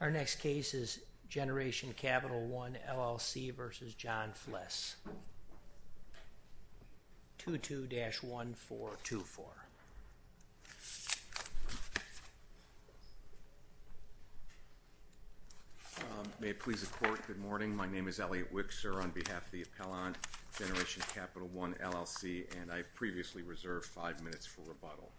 Our next case is Generation Capital I, LLC v. John Fliss. 2-2-1-4-2-4. May it please the Court, good morning. My name is Elliot Wickser on behalf of the Appellant Generation Capital I, LLC, and I have previously reserved five minutes for rebuttal.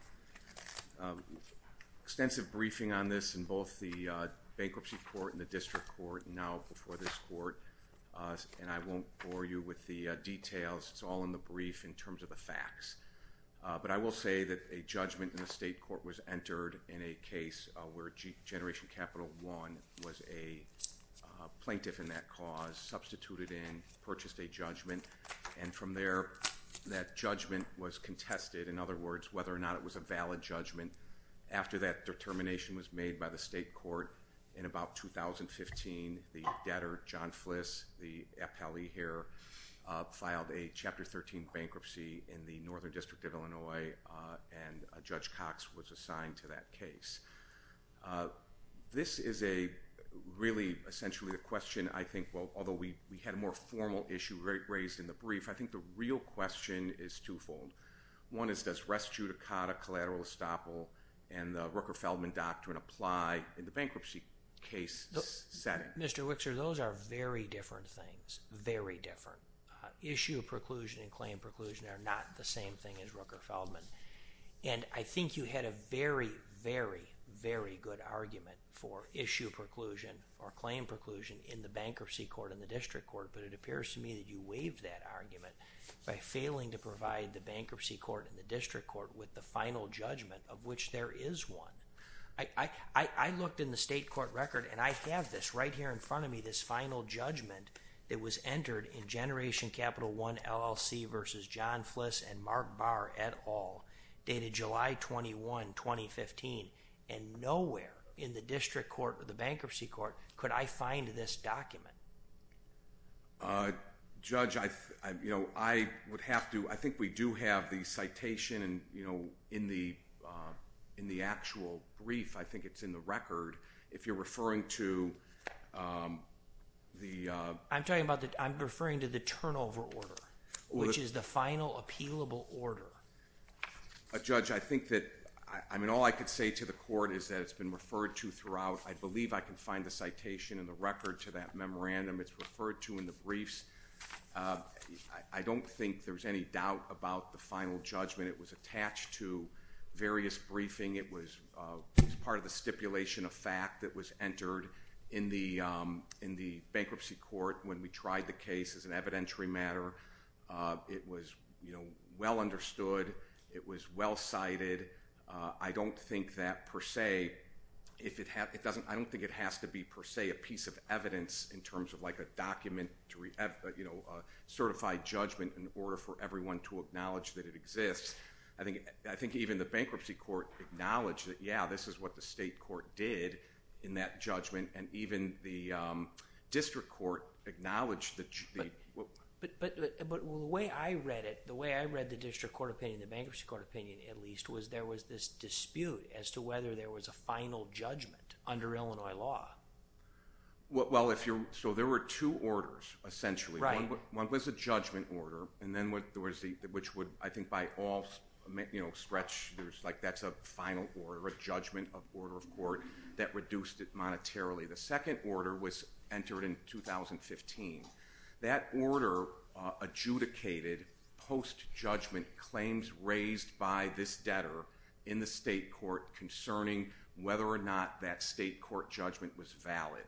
Extensive briefing on this in both the Bankruptcy Court and the District Court, and now before this Court, and I won't bore you with the details. It's all in the brief in terms of the facts. But I will say that a judgment in the State Court was entered in a case where Generation Capital I was a plaintiff in that cause, substituted in, purchased a judgment, and from there, that judgment was contested. In other words, whether or not it was a valid judgment. After that determination was made by the State Court in about 2015, the debtor, John Fliss, the appellee here, filed a Chapter 13 bankruptcy in the Northern District of Illinois, and Judge Cox was assigned to that case. This is a really essentially a question I think, well, although we had a more formal issue raised in the brief, I think the real question is twofold. One is, does res judicata collateral estoppel and the Rooker-Feldman doctrine apply in the bankruptcy case setting? Mr. Wixor, those are very different things. Very different. Issue preclusion and claim preclusion are not the same thing as Rooker-Feldman. And I think you had a very, very, very good argument for issue preclusion or claim preclusion in the Bankruptcy Court and the District Court, but it appears to me that you waived that argument by failing to provide the Bankruptcy Court and the District Court with the final judgment of which there is one. I looked in the State Court record and I have this right here in front of me, this final judgment that was entered in Generation Capital One LLC versus John Fliss and Mark Barr et al. dated July 21, 2015, and nowhere in the District Court or the Bankruptcy Court could I find this document. Judge, I think we do have the citation in the actual brief. I think it's in the record. If you're referring to the... I'm talking about the... I'm referring to the turnover order, which is the final appealable order. Judge, I think that... I mean, all I could say to the court is that it's been referred to throughout. I believe I can find the citation in the record to that memorandum. It's referred to in the briefs. I don't think there's any doubt about the final judgment. It was attached to various briefing. It was part of the stipulation of fact that was entered in the Bankruptcy Court when we tried the case as an evidentiary matter. It was well understood. It was well cited. I don't think that per se... I don't think it has to be per se a piece of evidence in terms of like a document, a certified judgment in order for everyone to acknowledge that it exists. I think even the Bankruptcy Court acknowledged that, yeah, this is what the State Court did in that judgment, and even the District Court acknowledged that... But the way I read it, the way I read the District Court opinion, the Bankruptcy Court opinion at least, was there was this dispute as to whether there was a final judgment under Illinois law. Well, if you're... So there were two orders, essentially. Right. One was a judgment order, and then there was the... Which would, I think, by all stretch... That's a final order, a judgment of order of court that reduced it monetarily. The second order was entered in 2015. That order adjudicated post-judgment claims raised by this debtor in the State Court concerning whether or not that State Court judgment was valid.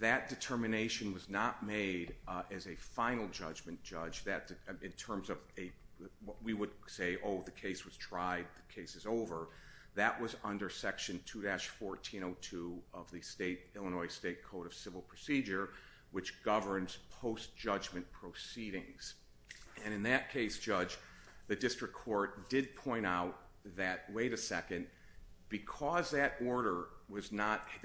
That determination was not made as a final judgment judge in terms of a... We would say, oh, the case is over. That was under Section 2-1402 of the Illinois State Code of Civil Procedure, which governs post-judgment proceedings. In that case, Judge, the District Court did point out that, wait a second, because that order did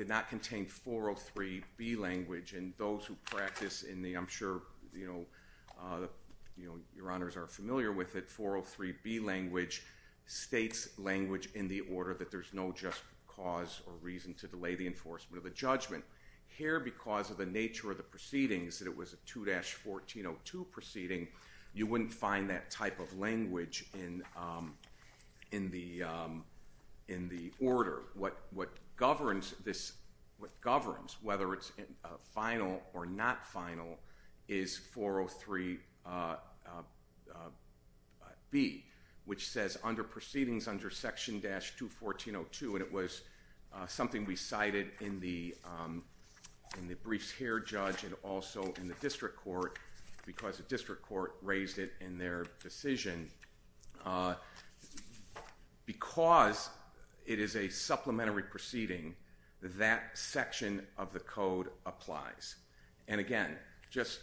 not contain 403B language, and those who practice in the... I'm sure your honors are familiar with it, 403B language states language in the order that there's no just cause or reason to delay the enforcement of the judgment. Here, because of the nature of the proceedings, that it was a 2-1402 proceeding, you wouldn't find that type of language in the order. What governs this... What governs, whether it's final or not final, is 403B language which says, under proceedings under Section 2-1402, and it was something we cited in the briefs here, Judge, and also in the District Court, because the District Court raised it in their decision. Because it is a supplementary proceeding, that section of the code applies. And again, just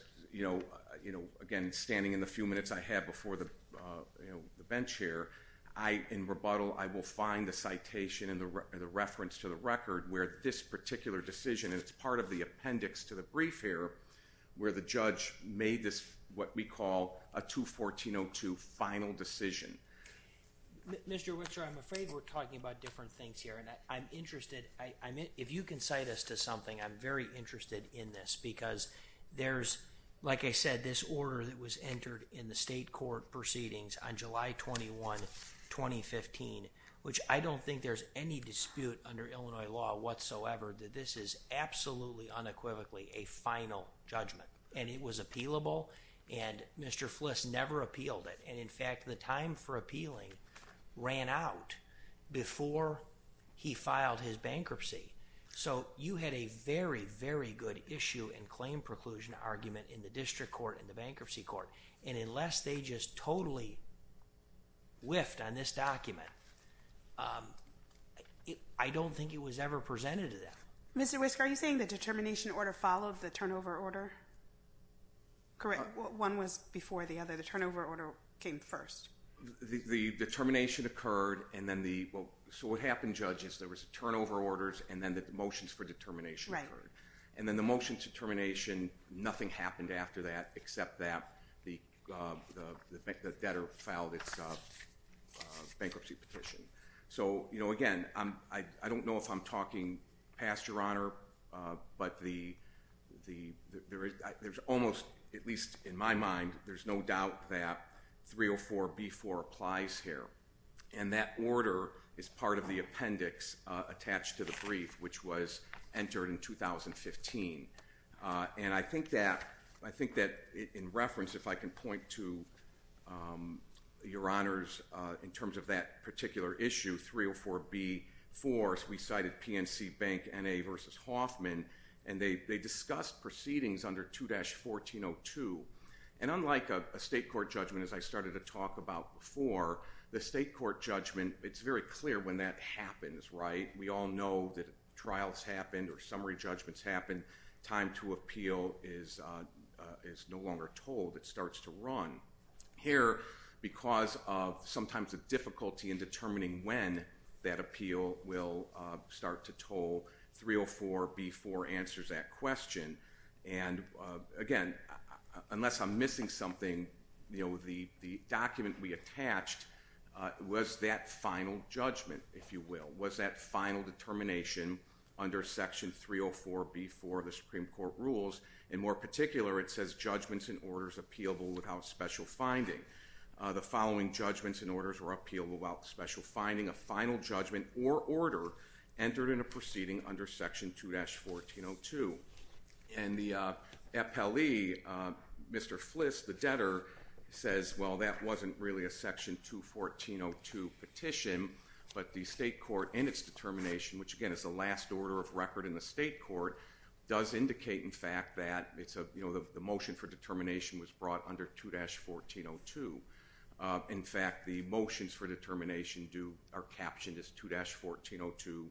again, standing in the few minutes I have before the bench here, in rebuttal, I will find the citation and the reference to the record where this particular decision, and it's part of the appendix to the brief here, where the judge made this, what we call, a 2-1402 final decision. Mr. Whitcher, I'm afraid we're talking about different things here, and I'm interested... If you can cite us to something, I'm very interested in this, because there's, like I said, this order that was entered in the state court proceedings on July 21, 2015, which I don't think there's any dispute under Illinois law whatsoever that this is absolutely, unequivocally, a final judgment. And it was appealable, and Mr. Fliss never appealed it. And in fact, the time for appealing ran out before he filed his bankruptcy. So, you had a very, very good issue and claim preclusion argument in the District Court and the Bankruptcy Court. And unless they just totally whiffed on this document, I don't think it was ever presented to them. Mr. Whisker, are you saying the determination order followed the turnover order? Correct. One was before the other. The turnover order came first. The determination occurred, and then the... So what happened, Judge, is there was turnover orders, and then the motions for determination occurred. And then the motions for termination, nothing happened after that except that the debtor filed its bankruptcy petition. So, you know, again, I don't know if I'm talking past Your Honor, but there's almost at least in my mind, there's no doubt that 304B4 applies here. And that order is part of the appendix attached to the brief, which was entered in 2015. And I think that in reference, if I can point to Your Honors, in terms of that particular issue, 304B4, as we cited PNC Bank, N.A. v. Hoffman, and they discussed proceedings under 2-1402. And unlike a state court judgment, as I started to talk about before, the state court judgment, it's very clear when that happens, right? We all know that trials happen or summary judgments happen. Time to appeal is no longer told. It starts to run. Here, because of sometimes the difficulty in determining when that appeal will start to toll, 304B4 answers that question. And again, unless I'm missing something, you know, the document we attached was that final judgment, if you will, was that final determination under Section 304B4 of the Supreme Court rules. And more particular, it says judgments and orders appealable without special finding. The following judgments and orders were appealable without special finding, a final judgment or order entered in a proceeding under Section 2-1402. And the FLE, Mr. Fliss, the debtor, says, well, that wasn't really a Section 2-1402 petition, but the state court in its determination, which again is the last order of record in the state court, does indicate, in fact, that the motion for determination was brought under 2-1402. In fact, the motions for determination are captioned as 2-1402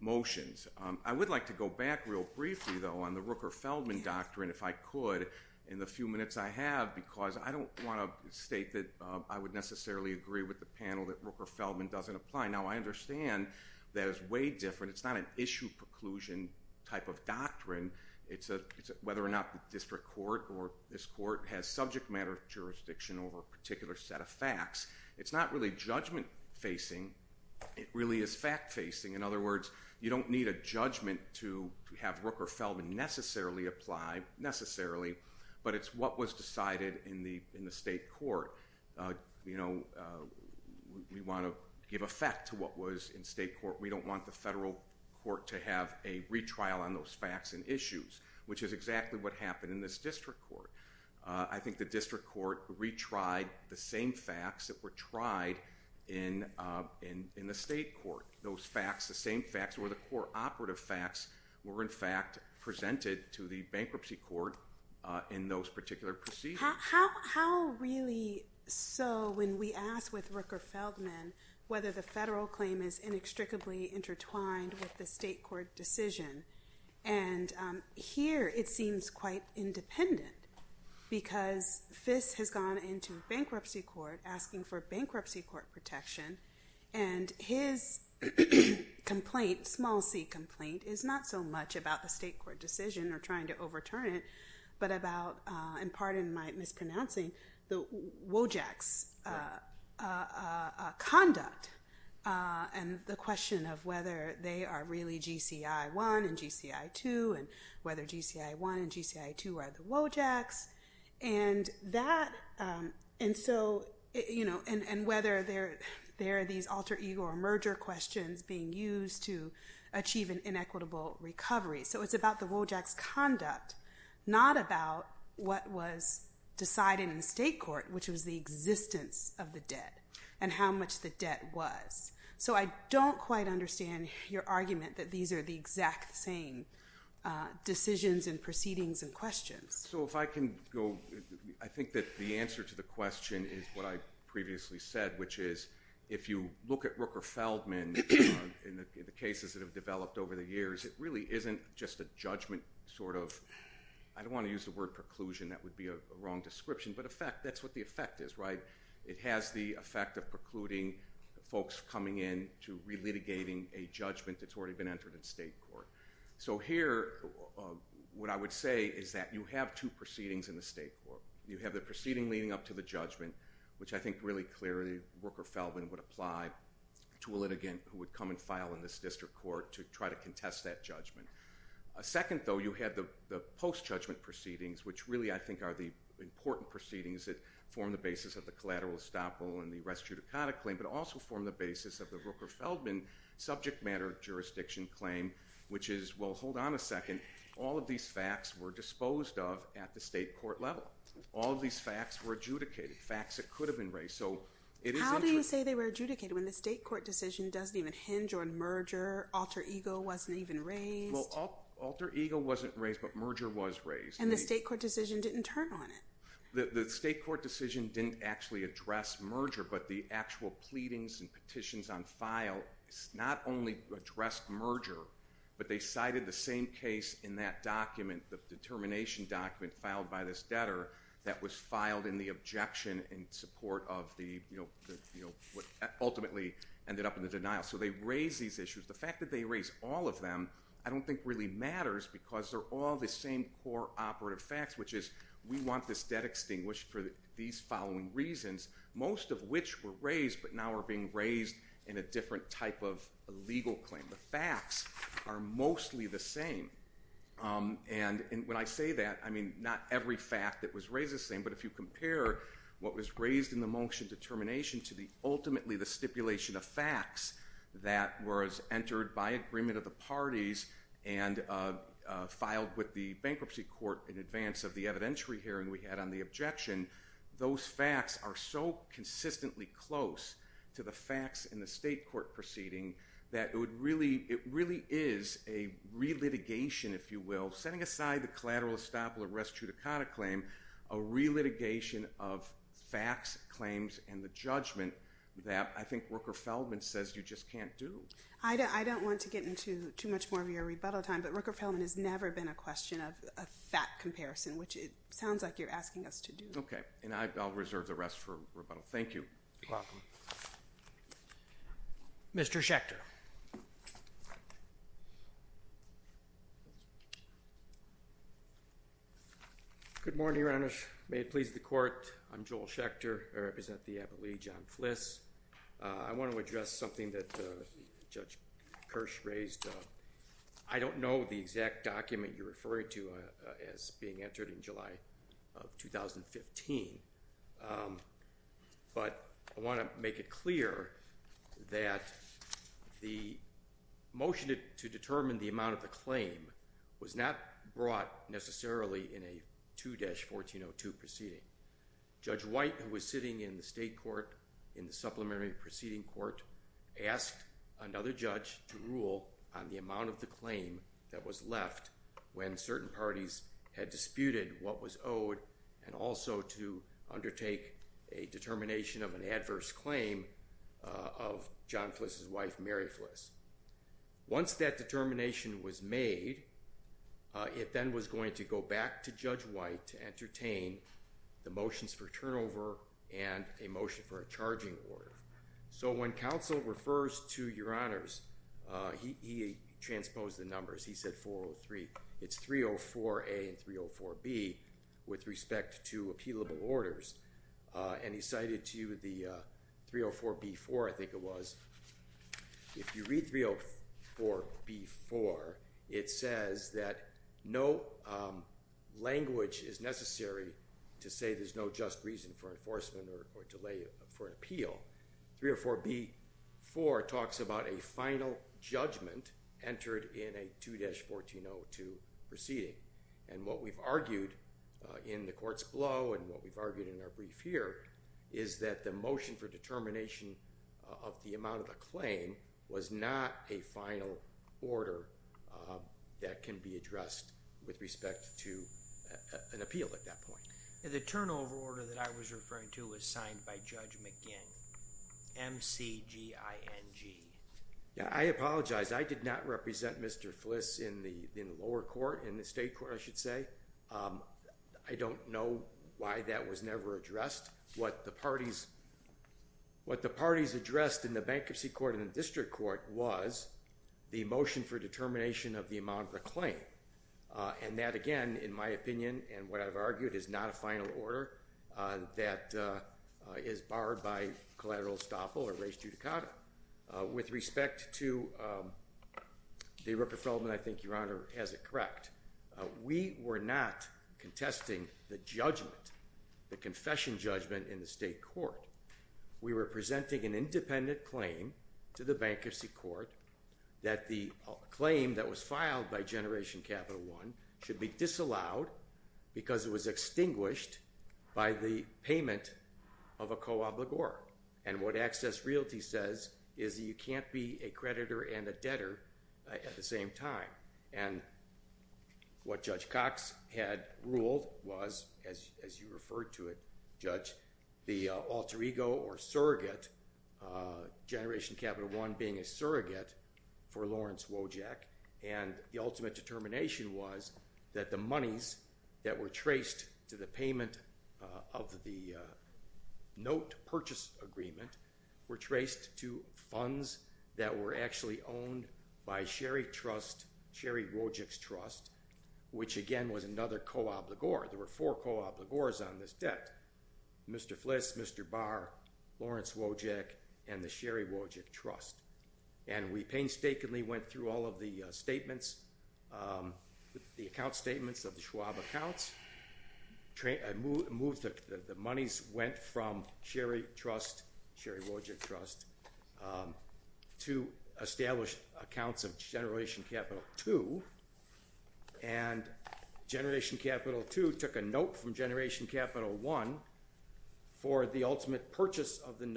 motions. I would like to go back real briefly, though, on the Rooker-Feldman doctrine, if I could, in the few minutes I have, because I don't want to state that I would necessarily agree with the panel that Rooker-Feldman doesn't apply. Now, I understand that is way different. It's not an issue preclusion type of doctrine. It's whether or not the district court or this court has subject matter jurisdiction over a particular set of facts. It's not really judgment-facing. It really is fact-facing. In other words, you don't need a judgment to have Rooker-Feldman necessarily apply, necessarily, but it's what was decided in the state court. We want to give effect to what was in state court. We don't want the federal court to have a retrial on those facts and issues, which is exactly what happened in this district court. I think the district court retried the same facts that were tried in the state court. Those facts, the same facts, were the core operative facts, were, in fact, presented to the bankruptcy court in those particular proceedings. How really so when we ask with Rooker-Feldman whether the federal claim is inextricably intertwined with the state court decision? Here, it seems quite independent because Fisk has gone into bankruptcy court asking for bankruptcy court protection, and his complaint, small c complaint, is not so much about the state court decision or trying to overturn it, but about, and pardon my mispronouncing, the WOJAX conduct and the question of whether they are really GCI 1 and GCI 2, and whether GCI 1 and GCI 2 are the WOJAX, and whether there are these alter ego or merger questions being used to achieve an inequitable recovery. So it's about the WOJAX conduct, not about what was decided in the state court, which was the existence of the debt and how much the debt was. So I don't quite understand your argument that these are the exact same decisions and proceedings and questions. So if I can go, I think that the answer to the question is what I previously said, which is if you look at Rooker-Feldman in the cases that have developed over the years, it really isn't just a judgment sort of, I don't want to use the word preclusion, that would be a wrong description, but that's what the effect is, right? It has the effect of precluding folks coming in to relitigating a judgment that's already been entered in state court. So here, what I would say is that you have two proceedings in the state court. You have the proceeding leading up to the judgment, which I think really clearly Rooker-Feldman would apply to a litigant who would come and file in this district court to try to contest that judgment. Second, though, you have the post-judgment proceedings, which really, I think, are the important proceedings that form the basis of the collateral estoppel and the rest judicata claim, but also form the basis of the Rooker-Feldman subject matter jurisdiction claim, which is, well, hold on a second. All of these facts were disposed of at the state court level. All of these facts were adjudicated, facts that could have been raised. So it is interesting. How do you say they were adjudicated when the state court decision doesn't even hinge on merger, alter ego wasn't even raised? Well, alter ego wasn't raised, but merger was raised. And the state court decision didn't turn on it? The state court decision didn't actually address merger, but the actual pleadings and petitions on file not only addressed merger, but they cited the same case in that document, the determination document filed by this debtor that was filed in the objection in support of what ultimately ended up in the denial. So they raised these issues. The fact that they raised all of them I don't think really matters because they're all the same core operative facts, which is we want this debt extinguished for these following reasons, most of which were raised, but now are being raised in a different type of legal claim. The facts are mostly the same. And when I say that, I mean, not every fact that was raised the same, but if you compare what was raised in the motion determination to the ultimately the stipulation of facts that was entered by agreement of the parties and filed with the bankruptcy court in advance of the evidentiary hearing we had on the objection, those facts are so consistently close to the facts in the state court proceeding that it really is a re-litigation, if you will, setting aside the collateral estoppel of restituta cata claim, a re-litigation of facts, claims, and the judgment that I think Rooker-Feldman says you just can't do. I don't want to get into too much more of your rebuttal time, but Rooker-Feldman has Okay. And I'll reserve the rest for rebuttal. Thank you. You're welcome. Mr. Schechter. Good morning, Your Honor. May it please the court. I'm Joel Schechter. I represent the appellee, John Fliss. I want to address something that Judge Kirsch raised. I don't know the exact date, but I want to make it clear that the motion to determine the amount of the claim was not brought necessarily in a 2-1402 proceeding. Judge White, who was sitting in the state court in the supplementary proceeding court, asked another judge to rule on the amount of the claim that was left when certain parties had disputed what was owed and also to undertake a determination of an adverse claim of John Fliss's wife, Mary Fliss. Once that determination was made, it then was going to go back to Judge White to entertain the motions for turnover and a motion for a charging order. So when counsel refers to Your Honors, he transposed the numbers. He said 403. It's 304A and 304B with respect to appeal of the available orders. He cited to you the 304B-4, I think it was. If you read 304B-4, it says that no language is necessary to say there's no just reason for enforcement or delay for an appeal. 304B-4 talks about a final judgment entered in a 2-1402 proceeding. What we've argued in our brief here is that the motion for determination of the amount of the claim was not a final order that can be addressed with respect to an appeal at that point. The turnover order that I was referring to was signed by Judge McGinn, M-C-G-I-N-G. I apologize. I did not represent Mr. Fliss in the lower court, in the state court I should say. That was never addressed. What the parties addressed in the bankruptcy court and district court was the motion for determination of the amount of the claim. And that, again, in my opinion, and what I've argued, is not a final order that is barred by collateral estoppel or res judicata. With respect to the irreprofilment, I think Your Honor has it correct, we were not contesting the judgment, the confession judgment in the state court. We were presenting an independent claim to the bankruptcy court that the claim that was filed by Generation Capital One should be disallowed because it was extinguished by the payment of a co-obligor. And what Access Realty says is that you can't be a creditor and a debtor at the same time. And what Judge Cox had ruled was, as you referred to it, Judge, the alter ego or surrogate, Generation Capital One being a surrogate for Lawrence Wojak, and the ultimate determination was that the monies that were traced to the payment of the note purchase agreement were traced to funds that were actually owned by Sherry Wojak's trust, which again was another co-obligor. There were four co-obligors on this debt. Mr. Fliss, Mr. Barr, Lawrence Wojak, and the Sherry Wojak trust. And we painstakingly went through all of the statements, the account statements of the Schwab accounts. The monies went from Sherry trust, Sherry Wojak trust, to established accounts of Generation Capital Two. And Generation Capital Two took a note from Generation Capital One for the ultimate transaction. And we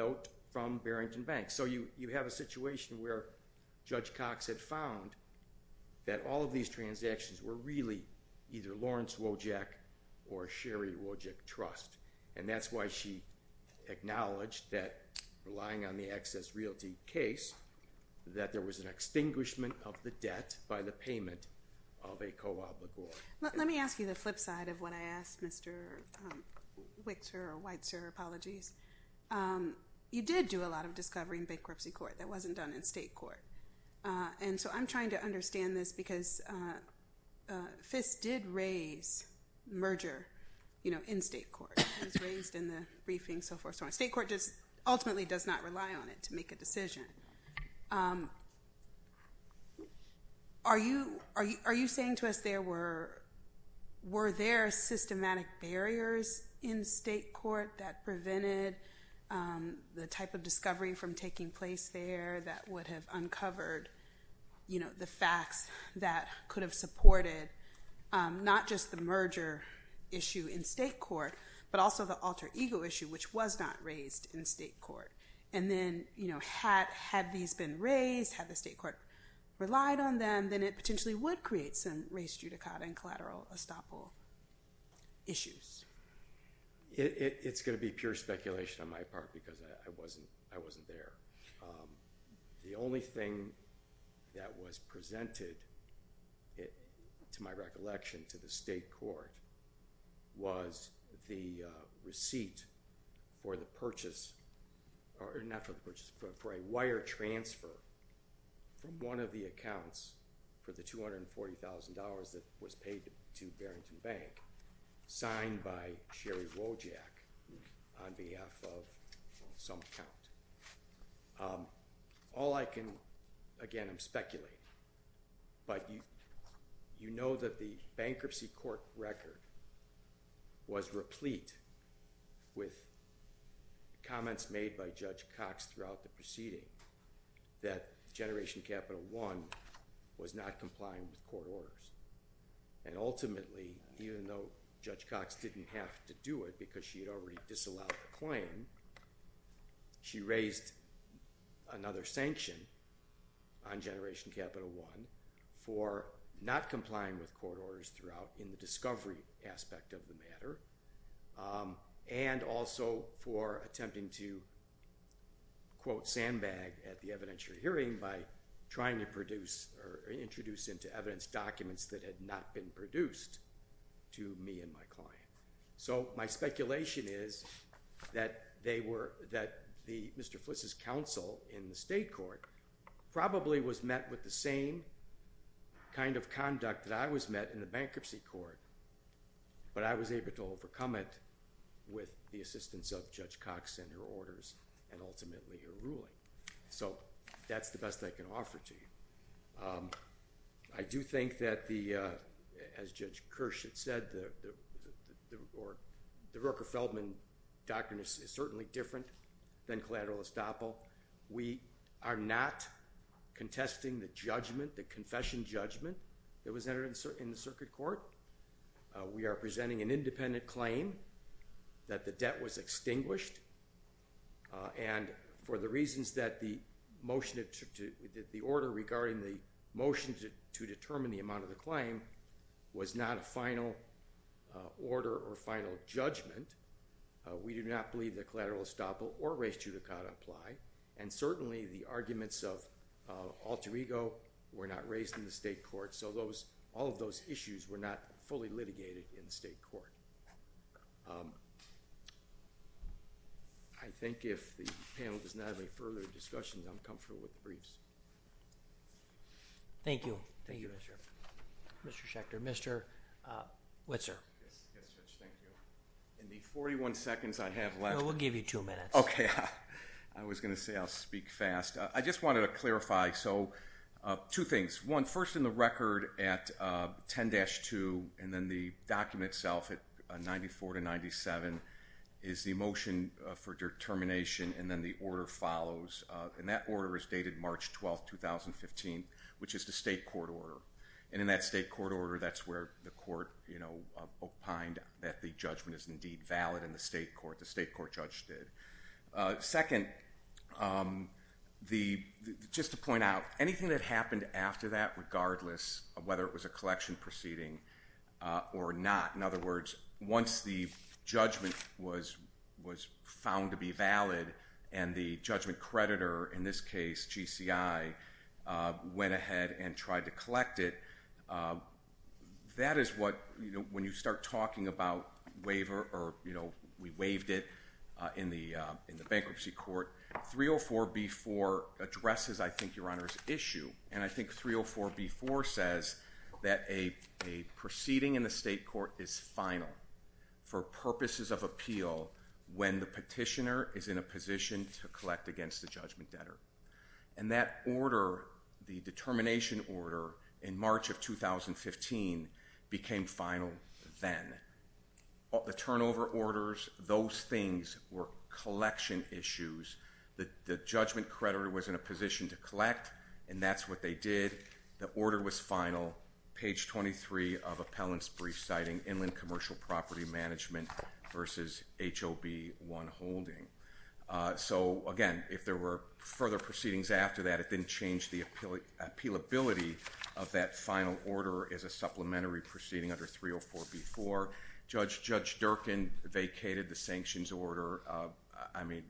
found that all of these transactions were really either Lawrence Wojak or Sherry Wojak trust. And that's why she acknowledged that relying on the Access Realty case, that there was an extinguishment of the debt by the payment of a co-obligor. Let me ask you the flip side of what I asked, Mr. Whitzer, or Whitzer, apologies. You did do a lot of discovery in bankruptcy court. That wasn't done in state court. And so I'm trying to understand this because Fiss did raise merger in state court. It was raised in the briefing, so forth, so on. State court just ultimately does not rely on it to make a decision. Are you saying to us, were there systematic barriers in state court that prevented the type of discovery from taking place there that would have uncovered the facts that could have supported not just the merger issue in state court, but also the alter ego issue, which was not raised in state court? And then had these been raised, had the state court relied on them, then it potentially would create some race judicata and collateral estoppel issues. It's going to be pure speculation on my part because I wasn't there. The only thing that was presented, to my recollection, to the state court was the receipt for the purchase, or not for the purchase, for a wire transfer from one of the accounts for the $240,000 that was paid to Barrington Bank, signed by Sherry Wojak on behalf of some account. All I can, again, I'm speculating, but you know that the bankruptcy court record was replete with comments made by Judge Cox throughout the proceeding that Generation Capital One was not complying with court orders. And ultimately, even though Judge Cox didn't have to do it because she had already disallowed the claim, she raised another sanction on Generation Capital One for not complying with court orders throughout in the discovery aspect of the matter, and also for attempting to, quote, sandbag at the evidentiary hearing by trying to produce, or introduce into evidence documents that had not been produced to me and my client. So my speculation is that they were, that Mr. Fliss's counsel in the state court probably was met with the same kind of conduct that I was met in the bankruptcy court, but I was able to overcome it with the assistance of Judge Cox and her orders, and ultimately her decision. I do think that the, as Judge Kirsch had said, the Roker-Feldman doctrine is certainly different than collateral estoppel. We are not contesting the judgment, the confession judgment, that was entered in the circuit court. We are presenting an independent claim that the debt was extinguished, and for the reasons that the motion, the order regarding the motion to determine the amount of the claim was not a final order or final judgment, we do not believe that collateral estoppel or res judicata apply, and certainly the arguments of alter ego were not raised in the state court, so those, all of those issues were not fully litigated in the state court. I think if the panel does not have any further discussion, I'm comfortable with the briefs. Thank you. Thank you, Mr. Schechter. Mr. Whitser. Yes, Judge, thank you. In the 41 seconds I have left. No, we'll give you two minutes. Okay. I was going to say I'll speak fast. I just wanted to clarify, so two things. One, first in the record at 10-2 and then the document itself at 94-97 is the motion for determination, and then the order follows, and that order is dated March 12, 2015, which is the state court order, and in that state court order, that's where the court opined that the judgment is indeed valid in the state court. The state court judge did. Second, just to point out, anything that happened after that, regardless of whether it was found to be valid and the judgment creditor, in this case, GCI, went ahead and tried to collect it, that is what, you know, when you start talking about waiver or, you know, we waived it in the bankruptcy court, 304b-4 addresses, I think, Your Honor's issue, and I think 304b-4 says that a proceeding in the state court is final for purposes of appeal when the petitioner is in a position to collect against the judgment debtor, and that order, the determination order in March of 2015 became final then. The turnover orders, those things were collection issues. The judgment creditor was in a position to collect, and that's what they did. The order was final. Page 23 of appellant's brief citing inland commercial property management versus HOB 1 holding. So, again, if there were further proceedings after that, it didn't change the appealability of that final order as a supplementary proceeding under 304b-4. Judge Durkin vacated the sanctions order. I mean,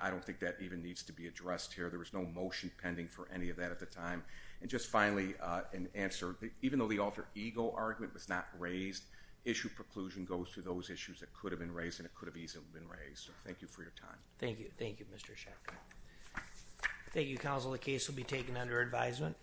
I don't think that even needs to be addressed here. There was no motion pending for any of that at the time. And just goes to those issues that could have been raised, and it could have easily been raised. So, thank you for your time. Thank you. Thank you, Mr. Shek. Thank you, counsel. The case will be taken under advisement.